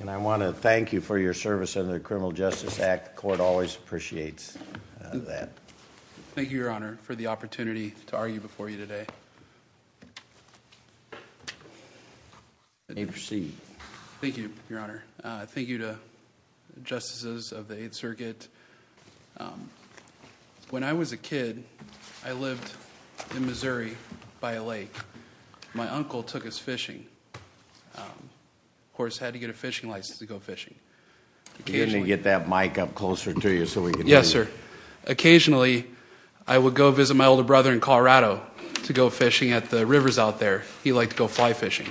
And I want to thank you for your service under the Criminal Justice Act. The court always appreciates that. Thank you, Your Honor, for the opportunity to argue before you today. You may proceed. Thank you, Your Honor. Thank you to the Justices of the Eighth Circuit. When I was a kid, I lived in Missouri by a lake. My uncle took us fishing. Of course, I had to get a fishing license to go fishing. Occasionally, I would go visit my older brother in Colorado to go fishing at the rivers out there. He liked to go fly fishing.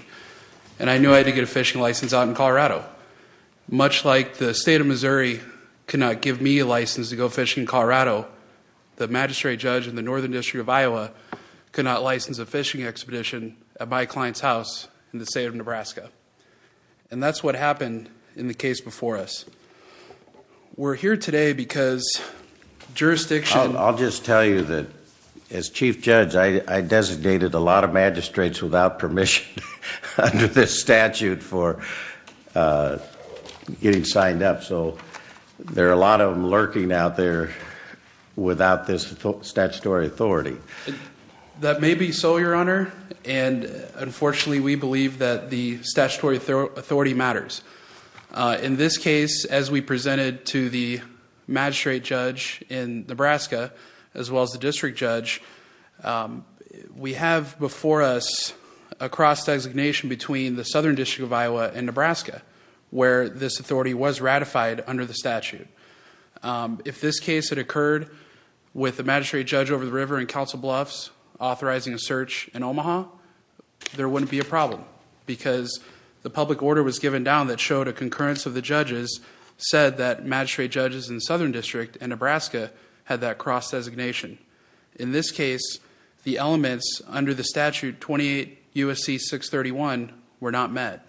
And I knew I had to get a fishing license out in Colorado. Much like the State of Missouri could not give me a license to go fishing in Colorado, the Magistrate Judge in the Northern District of Iowa could not license a fishing expedition at my client's house in the State of Nebraska. And that's what happened in the case before us. We're here today because jurisdiction... I'll just tell you that as Chief Judge, I designated a lot of magistrates without permission under this statute for getting signed up. So there are a lot of them lurking out there without this statutory authority. That may be so, Your Honor. And unfortunately, we believe that the statutory authority matters. In this case, as we presented to the Magistrate Judge in Nebraska, as well as the District Judge, we have before us a cross-designation between the Southern District of Iowa and Nebraska where this authority was ratified under the statute. If this case had occurred with the Magistrate Judge over the river in Council Bluffs authorizing a search in Omaha, there wouldn't be a problem because the public order was given down that showed a concurrence of the judges said that Magistrate Judges in the Southern District and Nebraska had that cross-designation. In this case, the elements under the statute 28 U.S.C. 631 were not met.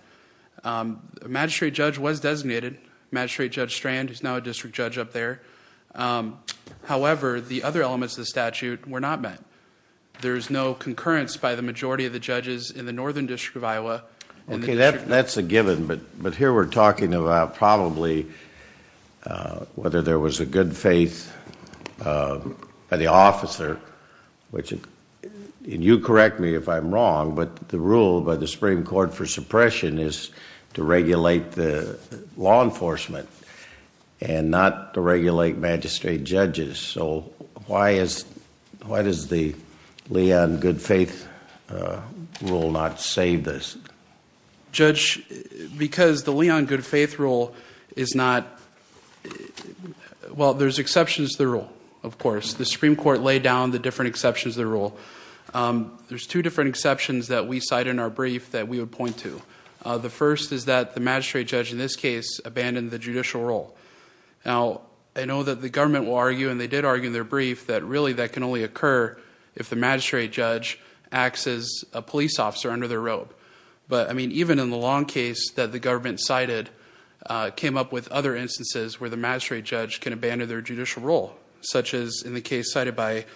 The Magistrate Judge was designated, Magistrate Judge Strand, who's now a District Judge up there. However, the other elements of the statute were not met. There's no concurrence by the majority of the judges in the Northern District of Iowa. Okay, that's a given, but here we're talking about probably whether there was a good faith by the officer, which you correct me if I'm wrong, but the rule by the Supreme Court for not to regulate Magistrate Judges, so why does the Leon good faith rule not save this? Judge, because the Leon good faith rule is not, well, there's exceptions to the rule, of course. The Supreme Court laid down the different exceptions to the rule. There's two different exceptions that we cite in our brief that we would point to. The first is that the Magistrate Judge in this case abandoned the judicial role. Now, I know that the government will argue, and they did argue in their brief, that really that can only occur if the Magistrate Judge acts as a police officer under their robe. But, I mean, even in the Long case that the government cited came up with other instances where the Magistrate Judge can abandon their judicial role, such as in the case cited by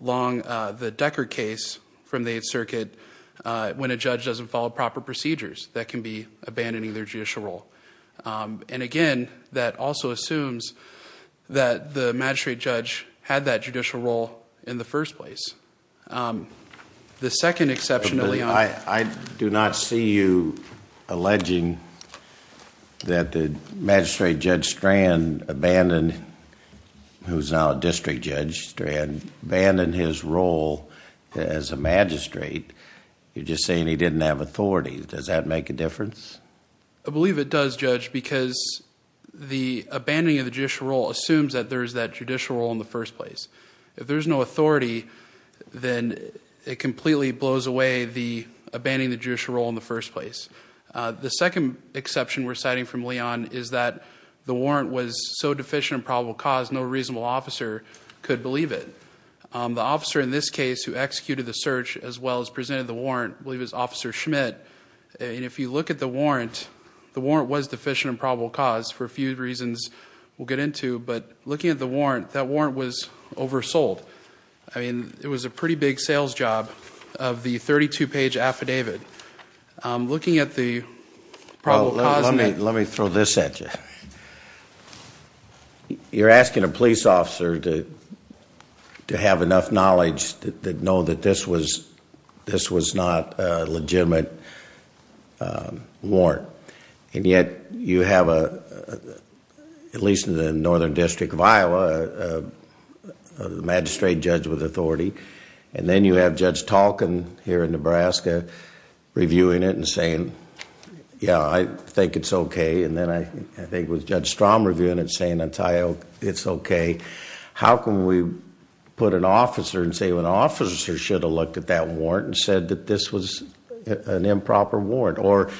Long, the Decker case from the 8th Circuit, when a judge doesn't follow proper procedures, that can be abandoning their judicial role. Again, that also assumes that the Magistrate Judge had that judicial role in the first place. The second exception of Leon... I do not see you alleging that the Magistrate Judge Strand abandoned, who's now a District Attorney. You're just saying he didn't have authority. Does that make a difference? I believe it does, Judge, because the abandoning of the judicial role assumes that there's that judicial role in the first place. If there's no authority, then it completely blows away the abandoning the judicial role in the first place. The second exception we're citing from Leon is that the warrant was so deficient and probable cause no reasonable officer could believe it. The officer in this case who executed the search, as well as presented the warrant, I believe it was Officer Schmidt. If you look at the warrant, the warrant was deficient and probable cause for a few reasons we'll get into, but looking at the warrant, that warrant was oversold. It was a pretty big sales job of the 32-page affidavit. Looking at the probable cause... To have enough knowledge to know that this was not a legitimate warrant, and yet you have a, at least in the Northern District of Iowa, a Magistrate Judge with authority, and then you have Judge Talken here in Nebraska reviewing it and saying, yeah, I think it's okay. How can we put an officer and say, well, an officer should have looked at that warrant and said that this was an improper warrant, or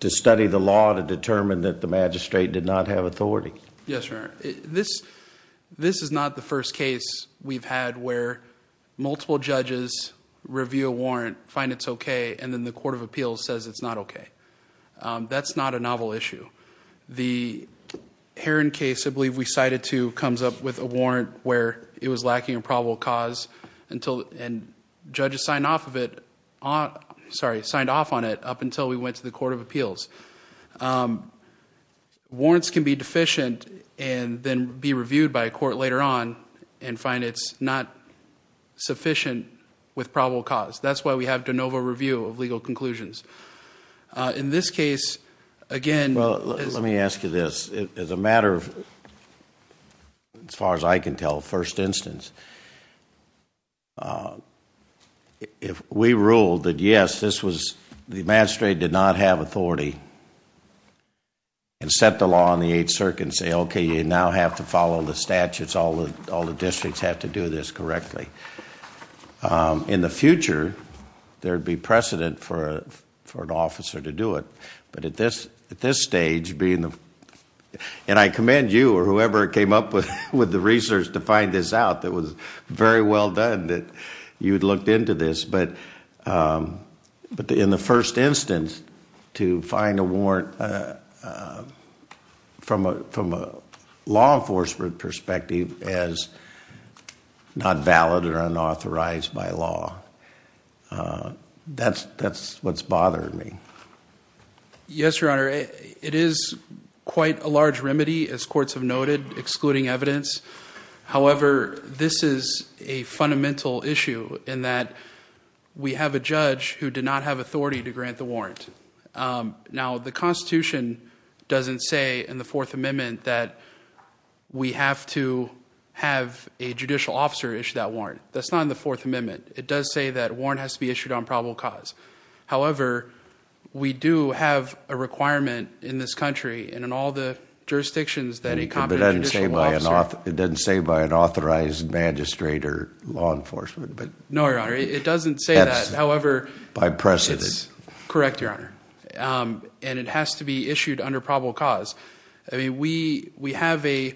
to study the law to determine that the Magistrate did not have authority? Yes, Your Honor. This is not the first case we've had where multiple judges review a warrant, find it's okay, and then the Court of Appeals says it's not okay. That's not a novel issue. The Heron case, I believe we cited two, comes up with a warrant where it was lacking a probable cause and judges signed off on it up until we went to the Court of Appeals. Warrants can be deficient and then be reviewed by a court later on and find it's not sufficient with probable cause. That's why we have de novo review of legal conclusions. In this case, again... Well, let me ask you this. As a matter of, as far as I can tell, first instance, if we ruled that yes, this was, the Magistrate did not have authority and set the law on the Eighth Circuit and say, okay, you now have to follow the statutes, all the districts have to do this correctly. In the future, there would be precedent for an officer to do it, but at this stage, being the, and I commend you or whoever came up with the research to find this out. It was very well done that you had looked into this, but in the first instance, to find a warrant from a law enforcement perspective as, as far as I can tell, that not valid or unauthorized by law. That's, that's what's bothering me. Yes, Your Honor. It is quite a large remedy, as courts have noted, excluding evidence. However, this is a fundamental issue in that we have a judge who did not have authority to grant the warrant. Now, the Constitution doesn't say in the Fourth Amendment that we have to have a judicial officer issue that warrant. That's not in the Fourth Amendment. It does say that a warrant has to be issued on probable cause. However, we do have a requirement in this country and in all the jurisdictions that a competent judicial officer... It doesn't say by an authorized Magistrate or law enforcement, but... No, Your Honor. It doesn't say that. However... By precedence. Correct, Your Honor. And it has to be issued under probable cause. I mean, we, we have a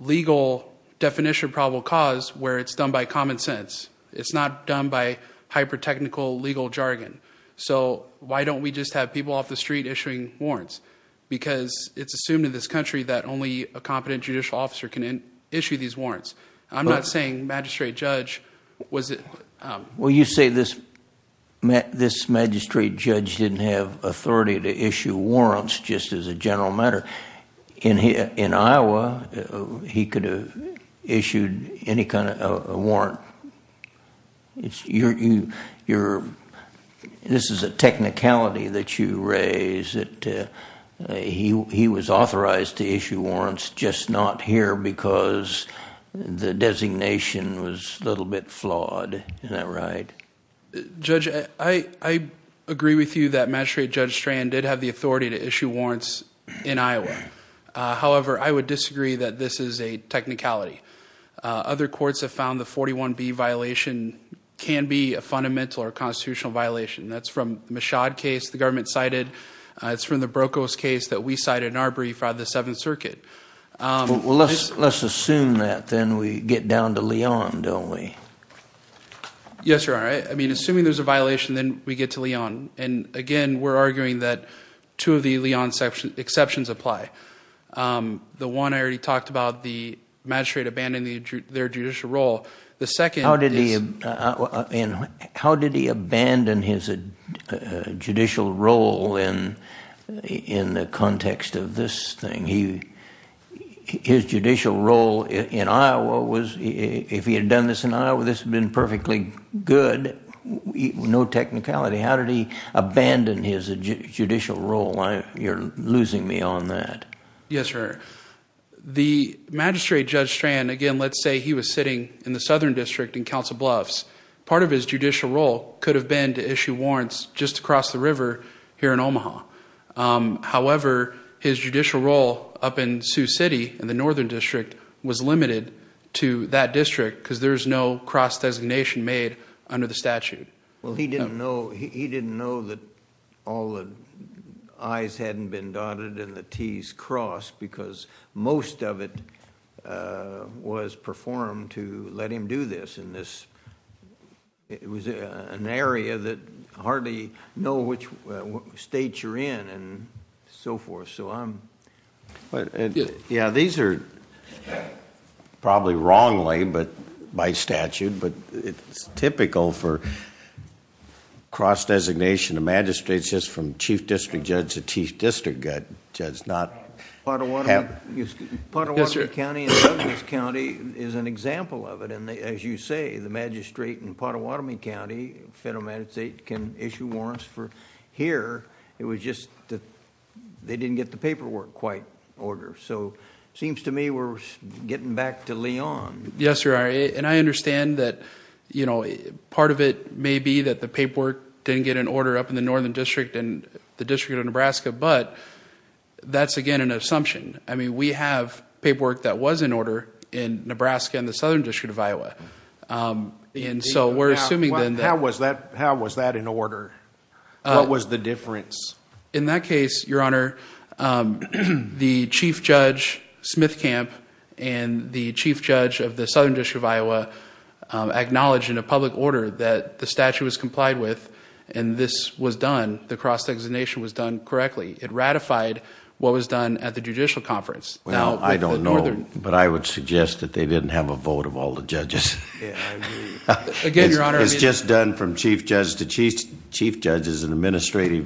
legal definition of probable cause where it's done by common sense. It's not done by hyper-technical legal jargon. So, why don't we just have people off the street issuing warrants? Because it's assumed in this country that only a competent judicial officer can issue these warrants. I'm not saying Magistrate Judge was... Well you say this, this Magistrate Judge didn't have authority to issue warrants just as a law. He could have issued any kind of a warrant. It's your, your, this is a technicality that you raise that he, he was authorized to issue warrants just not here because the designation was a little bit flawed. Isn't that right? Judge, I, I agree with you that Magistrate Judge Strand did have the authority to issue warrants. I agree that this is a technicality. Other courts have found the 41B violation can be a fundamental or constitutional violation. That's from the Michaud case the government cited. It's from the Brokos case that we cited in our brief out of the Seventh Circuit. Well, let's, let's assume that then we get down to Leon, don't we? Yes, Your Honor. I mean, assuming there's a violation, then we get to Leon. And again, we're arguing that two of the Leon exceptions apply. The one I already talked about, the Magistrate abandoning their judicial role. The second is... How did he abandon his judicial role in, in the context of this thing? He, his judicial role in Iowa was, if he had done this in Iowa, this had been perfectly good. No technicality. How did he abandon his judicial role? I, you're losing me on that. Yes, Your Honor. The Magistrate Judge Strand, again, let's say he was sitting in the Southern District in Council Bluffs. Part of his judicial role could have been to issue warrants just across the river here in Omaha. However, his judicial role up in Sioux City in the Northern District was limited to that district because there's no cross-designation made under the statute. Well, he didn't know, he didn't know that all the I's hadn't been dotted and the T's crossed because most of it was performed to let him do this in this, it was an area that hardly know which state you're in and so forth. So I'm, yeah, these are probably wrongly, but by statute, but it's typical for cross-designation. The Magistrate's just from Chief District Judge to Chief District Judge, does not have... Pottawatomie, Pottawatomie County and Douglas County is an example of it. And as you say, the Magistrate in Pottawatomie County, Federal Magistrate, can issue warrants for here. It was just that they didn't get the paperwork quite in order. So it seems to me we're getting back to Leon. Yes, you are. And I understand that, you know, part of it may be that the paperwork didn't get an order up in the Northern District and the District of Nebraska, but that's again an assumption. I mean, we have paperwork that was in order in Nebraska and the Southern District of Iowa. And so we're assuming then that... How was that in order? What was the difference? In that case, Your Honor, the Chief Judge Smithcamp and the Chief Judge of the Southern District of Iowa acknowledged in a public order that the statute was complied with and this was done, the cross-designation was done correctly. It ratified what was done at the Judicial Conference. Well, I don't know, but I would suggest that they didn't have a vote of all the judges. Again, Your Honor... It's just done from Chief Judge to Chief Judge is an administrative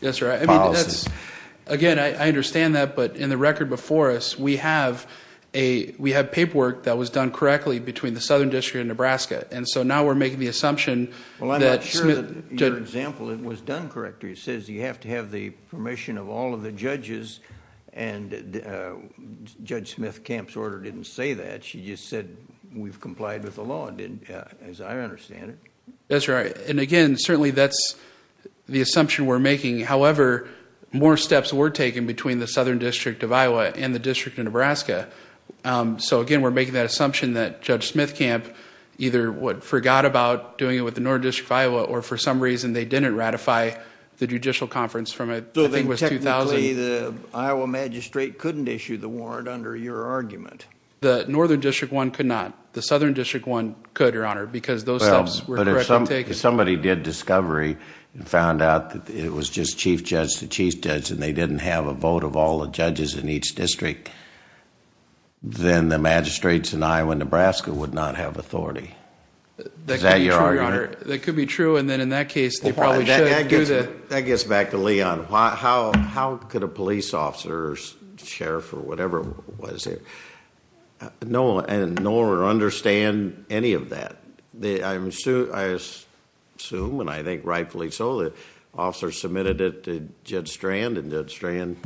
policy. That's right. Again, I understand that, but in the record before us, we have paperwork that was done correctly between the Southern District of Nebraska. And so now we're making the assumption that... Well, I'm not sure that your example was done correctly. It says you have to have the permission of all of the judges and Judge Smithcamp's order didn't say that. She just said we've complied with the law, as I understand it. That's right. And again, certainly that's the assumption we're making. However, more steps were taken between the Southern District of Iowa and the District of Nebraska. So again, we're making that assumption that Judge Smithcamp either forgot about doing it with the Northern District of Iowa or for some reason, they didn't ratify the Judicial Conference from a... So technically, the Iowa magistrate couldn't issue the warrant under your argument? The Northern District one could not. The Southern District one could, Your Honor, because those steps were correctly taken. Well, but if somebody did discovery and found out that it was just Chief Judge to Chief Judge and they didn't have a vote of all the judges in each district, then the magistrates in Iowa and Nebraska would not have authority. Is that your argument? That could be true, Your Honor. That could be true. And then in that case, they probably should do the... No one would understand any of that. I assume, and I think rightfully so, that officers submitted it to Judge Strand and Judge Strand...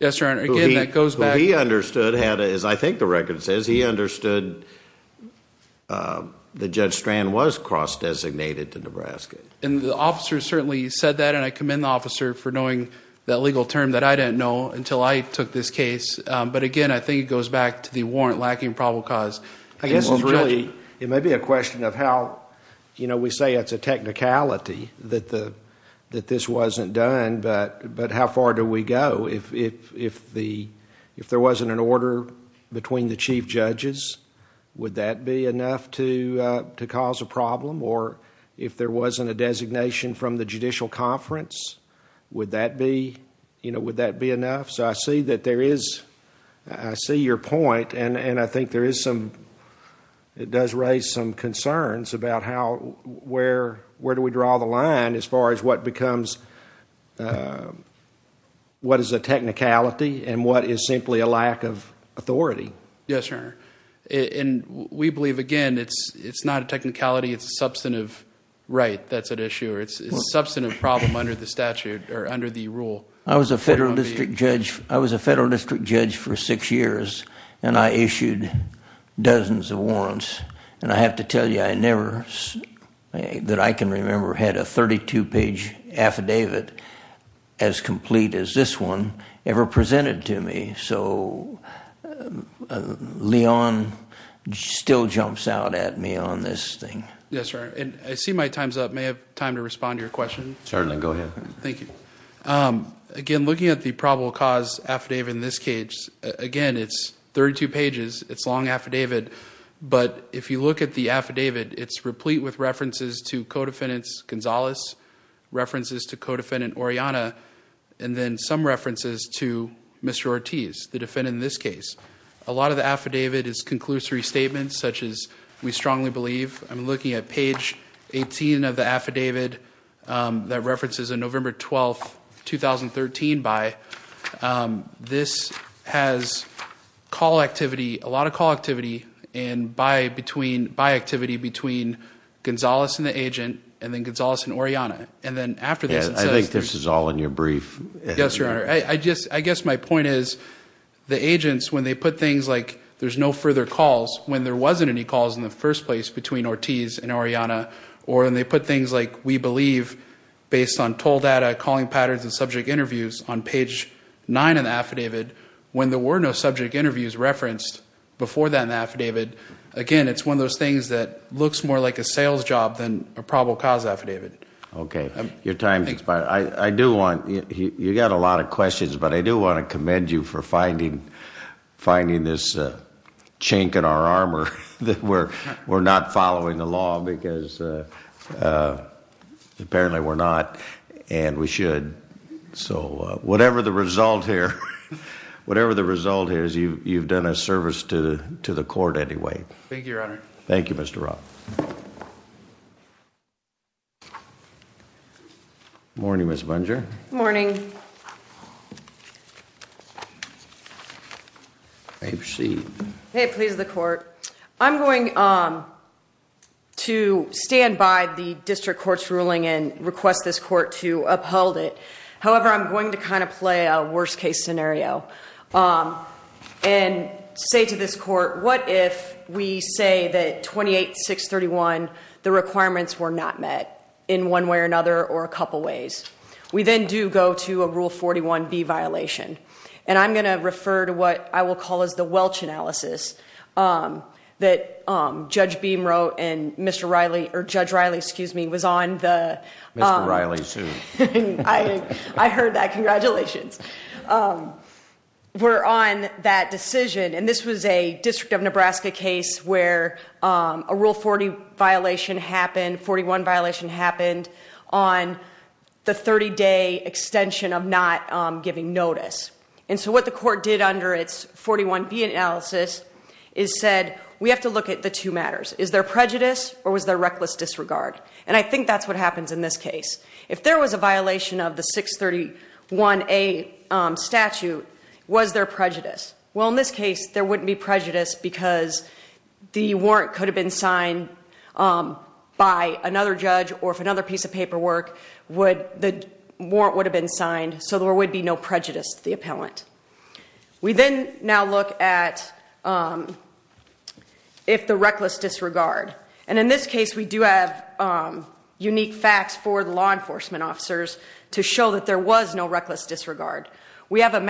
Yes, Your Honor. Again, that goes back... Who he understood had, as I think the record says, he understood that Judge Strand was cross-designated to Nebraska. And the officers certainly said that and I commend the officer for knowing that legal term that I didn't know until I took this case. But again, I think it goes back to the warrant lacking probable cause. I guess it's really, it may be a question of how, you know, we say it's a technicality that this wasn't done, but how far do we go? If there wasn't an order between the Chief Judges, would that be enough to cause a problem? Or if there wasn't a designation from the Chief Judge, would that be enough? So I see that there is, I see your point and I think there is some, it does raise some concerns about how, where do we draw the line as far as what becomes, what is a technicality and what is simply a lack of authority. Yes, Your Honor. And we believe, again, it's not a technicality, it's a substantive right that's at issue. It's a substantive problem under the statute or under the rule. I was a Federal District Judge, I was a Federal District Judge for six years and I issued dozens of warrants. And I have to tell you, I never, that I can remember, had a 32-page affidavit as complete as this one ever presented to me. So Leon still jumps out at me on this thing. Yes, Your Honor. And I see my time's up. May I have time to respond to your question? Certainly. Go ahead. Thank you. Again, looking at the probable cause affidavit in this case, again, it's 32 pages, it's a long affidavit, but if you look at the affidavit, it's replete with references to Codefendant Gonzalez, references to Codefendant Oriana, and then some references to Mr. Ortiz, the defendant in this case. A lot of the affidavit is conclusory statements such as, we strongly believe, I'm looking at page 18 of the affidavit that references a November 12, 2013 buy. This has call activity, a lot of call activity, and buy between, buy activity between Gonzalez and the agent, and then Gonzalez and Oriana. And then after this it says... I think this is all in your brief. Yes, Your Honor. I just, I guess my point is the agents, when they put things like there's no further calls, when there wasn't any calls in the first place between Ortiz and Oriana, or when they put things like, we believe, based on toll data, calling patterns and subject interviews on page 9 of the affidavit, when there were no subject interviews referenced before that in the affidavit, again, it's one of those things that looks more like a sales job than a probable cause affidavit. Okay. Your time has expired. I do want, you got a lot of questions, but I do want to commend you for finding, finding this chink in our armor that we're, we're not following the law because apparently we're not, and we should. So whatever the result here, whatever the result here is, you've done a service to, to the court anyway. Thank you, Your Honor. Thank you, Mr. Roth. Morning, Ms. Bunger. Morning. May it please the court. I'm going to stand by the district court's ruling and request this court to uphold it. However, I'm going to kind of play a worst case scenario and say to this court, what if we say that 28-631, the requirements were not met in one way or another or a couple ways. We then do go to a Rule 41B violation. And I'm going to refer to what I will call as the Welch analysis that Judge Beam wrote and Mr. Riley, or Judge Riley, excuse me, was on the... Mr. Riley sued. I heard that. Congratulations. We're on that decision, and this was a District of Nebraska case where a Rule 40 violation happened, 41 violation happened on the 30-day extension of not giving notice. And so what the court did under its 41B analysis is said, we have to look at the two matters. Is there prejudice or was there reckless disregard? And I think that's what happens in this case. If there was a violation of the 631A statute, was there any prejudice? Because the warrant could have been signed by another judge or if another piece of paperwork, the warrant would have been signed, so there would be no prejudice to the appellant. We then now look at if the reckless disregard. And in this case, we do have unique facts for the law enforcement officers to show that there was no reckless disregard. We have a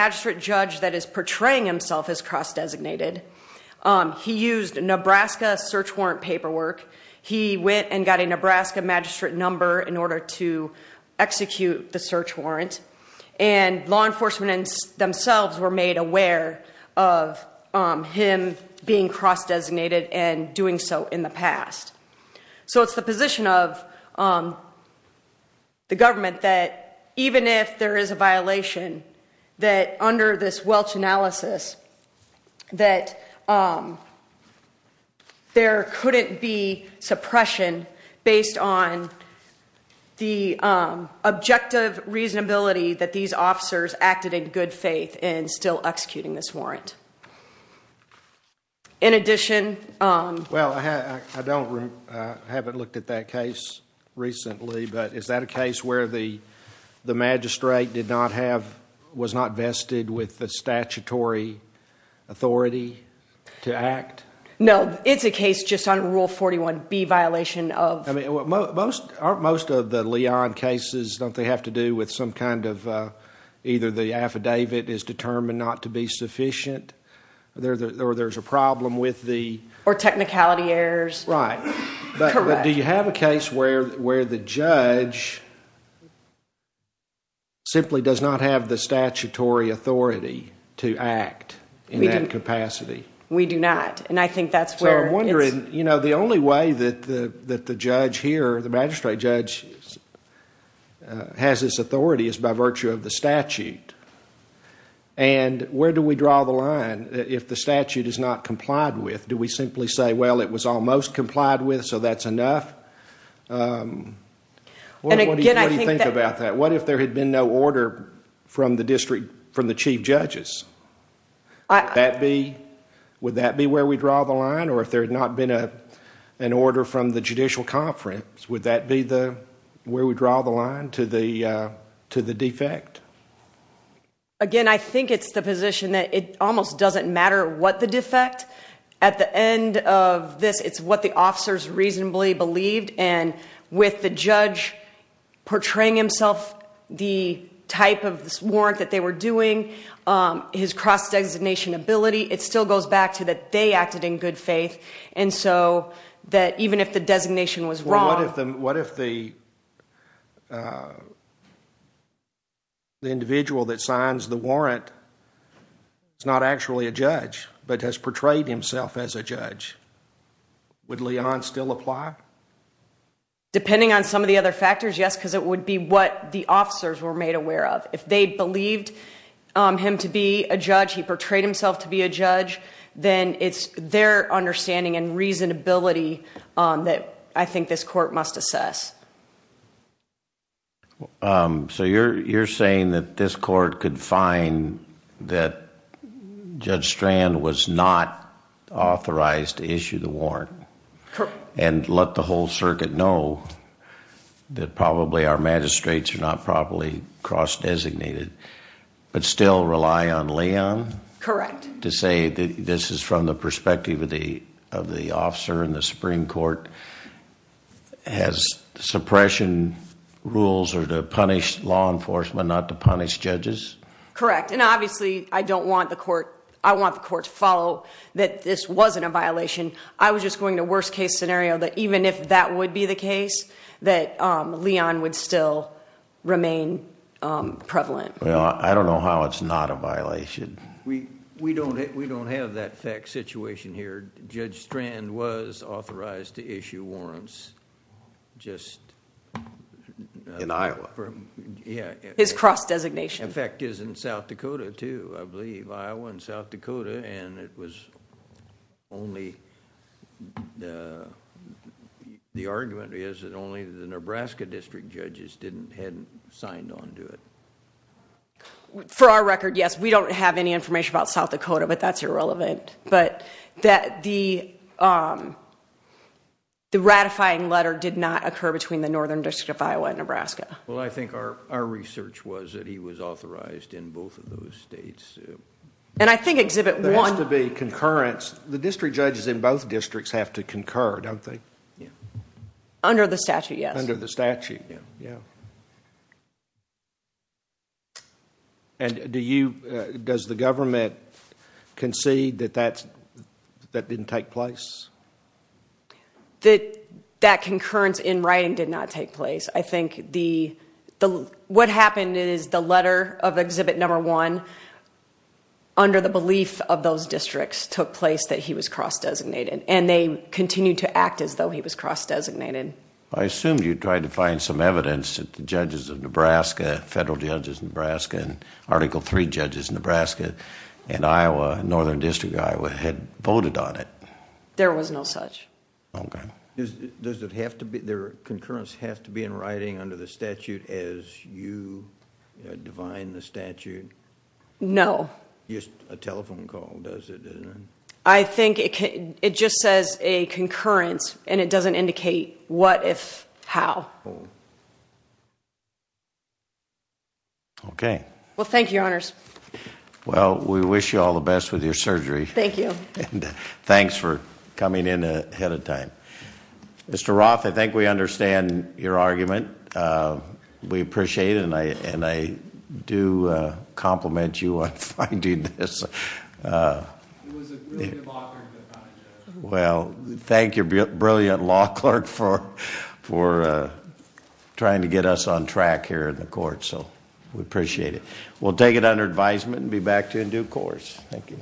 He used Nebraska search warrant paperwork. He went and got a Nebraska magistrate number in order to execute the search warrant. And law enforcement themselves were made aware of him being cross-designated and doing so in the past. So it's the position of the government that even if there is a violation, that under this statute, there couldn't be suppression based on the objective reasonability that these officers acted in good faith in still executing this warrant. In addition, I haven't looked at that case recently, but is that a case where the magistrate did not have, was not vested with the statutory authority to act? No, it's a case just on Rule 41B violation of I mean, most of the Leon cases, don't they have to do with some kind of either the affidavit is determined not to be sufficient or there's a problem with the Or technicality errors Right Correct Do you have a case where the judge simply does not have the statutory authority to act in that capacity? We do not. And I think that's where So I'm wondering, you know, the only way that the judge here, the magistrate judge has this authority is by virtue of the statute. And where do we draw the line if the statute is not complied with? Do we simply say, well, it was almost complied with, so that's enough? What do you think about that? What if there had been no order from the district, from the chief judges? Would that be where we draw the line? Or if there had not been an order from the judicial conference, would that be where we draw the line to the defect? Again, I think it's the position that it almost doesn't matter what the defect. At the end of this, it's what the officers reasonably believed. And with the judge portraying himself the type of warrant that they were doing, his cross-designation ability, it still goes back to that they acted in good faith. And so that even if the designation was wrong What if the individual that signs the warrant is not actually a judge, but has portrayed himself as a judge? Would Leon still apply? Depending on some of the other factors, yes, because it would be what the officers were made aware of. If they believed him to be a judge, he portrayed himself to be a judge, then it's their understanding and reasonability that I think this court must assess. So you're saying that this court could find that Judge Strand was not authorized to issue the warrant and let the whole circuit know that probably our magistrates are not properly cross-designated, but still rely on Leon? Correct. To say that this is from the perspective of the officer in the Supreme Court, has suppression rules are to punish law enforcement, not to punish judges? Correct. And obviously, I don't want the court, I want the court to follow that this wasn't a violation. I was just going to worst case scenario that even if that would be the case, that Leon would still remain prevalent. I don't know how it's not a violation. We don't have that situation here. Judge Strand was authorized to issue warrants, just... In Iowa? Yeah. His cross-designation. In fact, is in South Dakota too, I believe, Iowa and South Dakota, and it was only... the argument is that only the Nebraska district judges hadn't signed on to it. For our record, yes, we don't have any information about South Dakota, but that's irrelevant, but that the ratifying letter did not occur between the Northern District of Iowa and Nebraska. Well, I think our research was that he was authorized in both of those states. And I think Exhibit 1... There has to be concurrence. The district judges in both districts have to concur, don't they? Under the statute, yes. Under the statute, yeah. And do you... does the government concede that that didn't take place? That concurrence in writing did not take place. I think what happened is the letter of Exhibit 1, under the belief of those districts, took place that he was cross-designated, and they continued to act as though he was cross-designated. I assumed you tried to find some evidence that the judges of Nebraska, Federal Judges of Nebraska, and Article III judges of Nebraska and Iowa, Northern District of Iowa, had voted on it. There was no such. Okay. Does it have to be... does concurrence have to be in writing under the statute as you divine the statute? No. Just a telephone call, does it? I think it just says a concurrence, and it doesn't indicate what, if, how. Okay. Well, thank you, Your Honors. Well, we wish you all the best with your surgery. Thank you. And thanks for coming in ahead of time. Mr. Roth, I think we understand your argument. We appreciate it, and I do compliment you on finding this. It was a brilliant law clerk that found it, Judge. Well, thank your brilliant law clerk for trying to get us on track here in the court. So, we appreciate it. We'll take it under advisement and be back to you in due course. Thank you.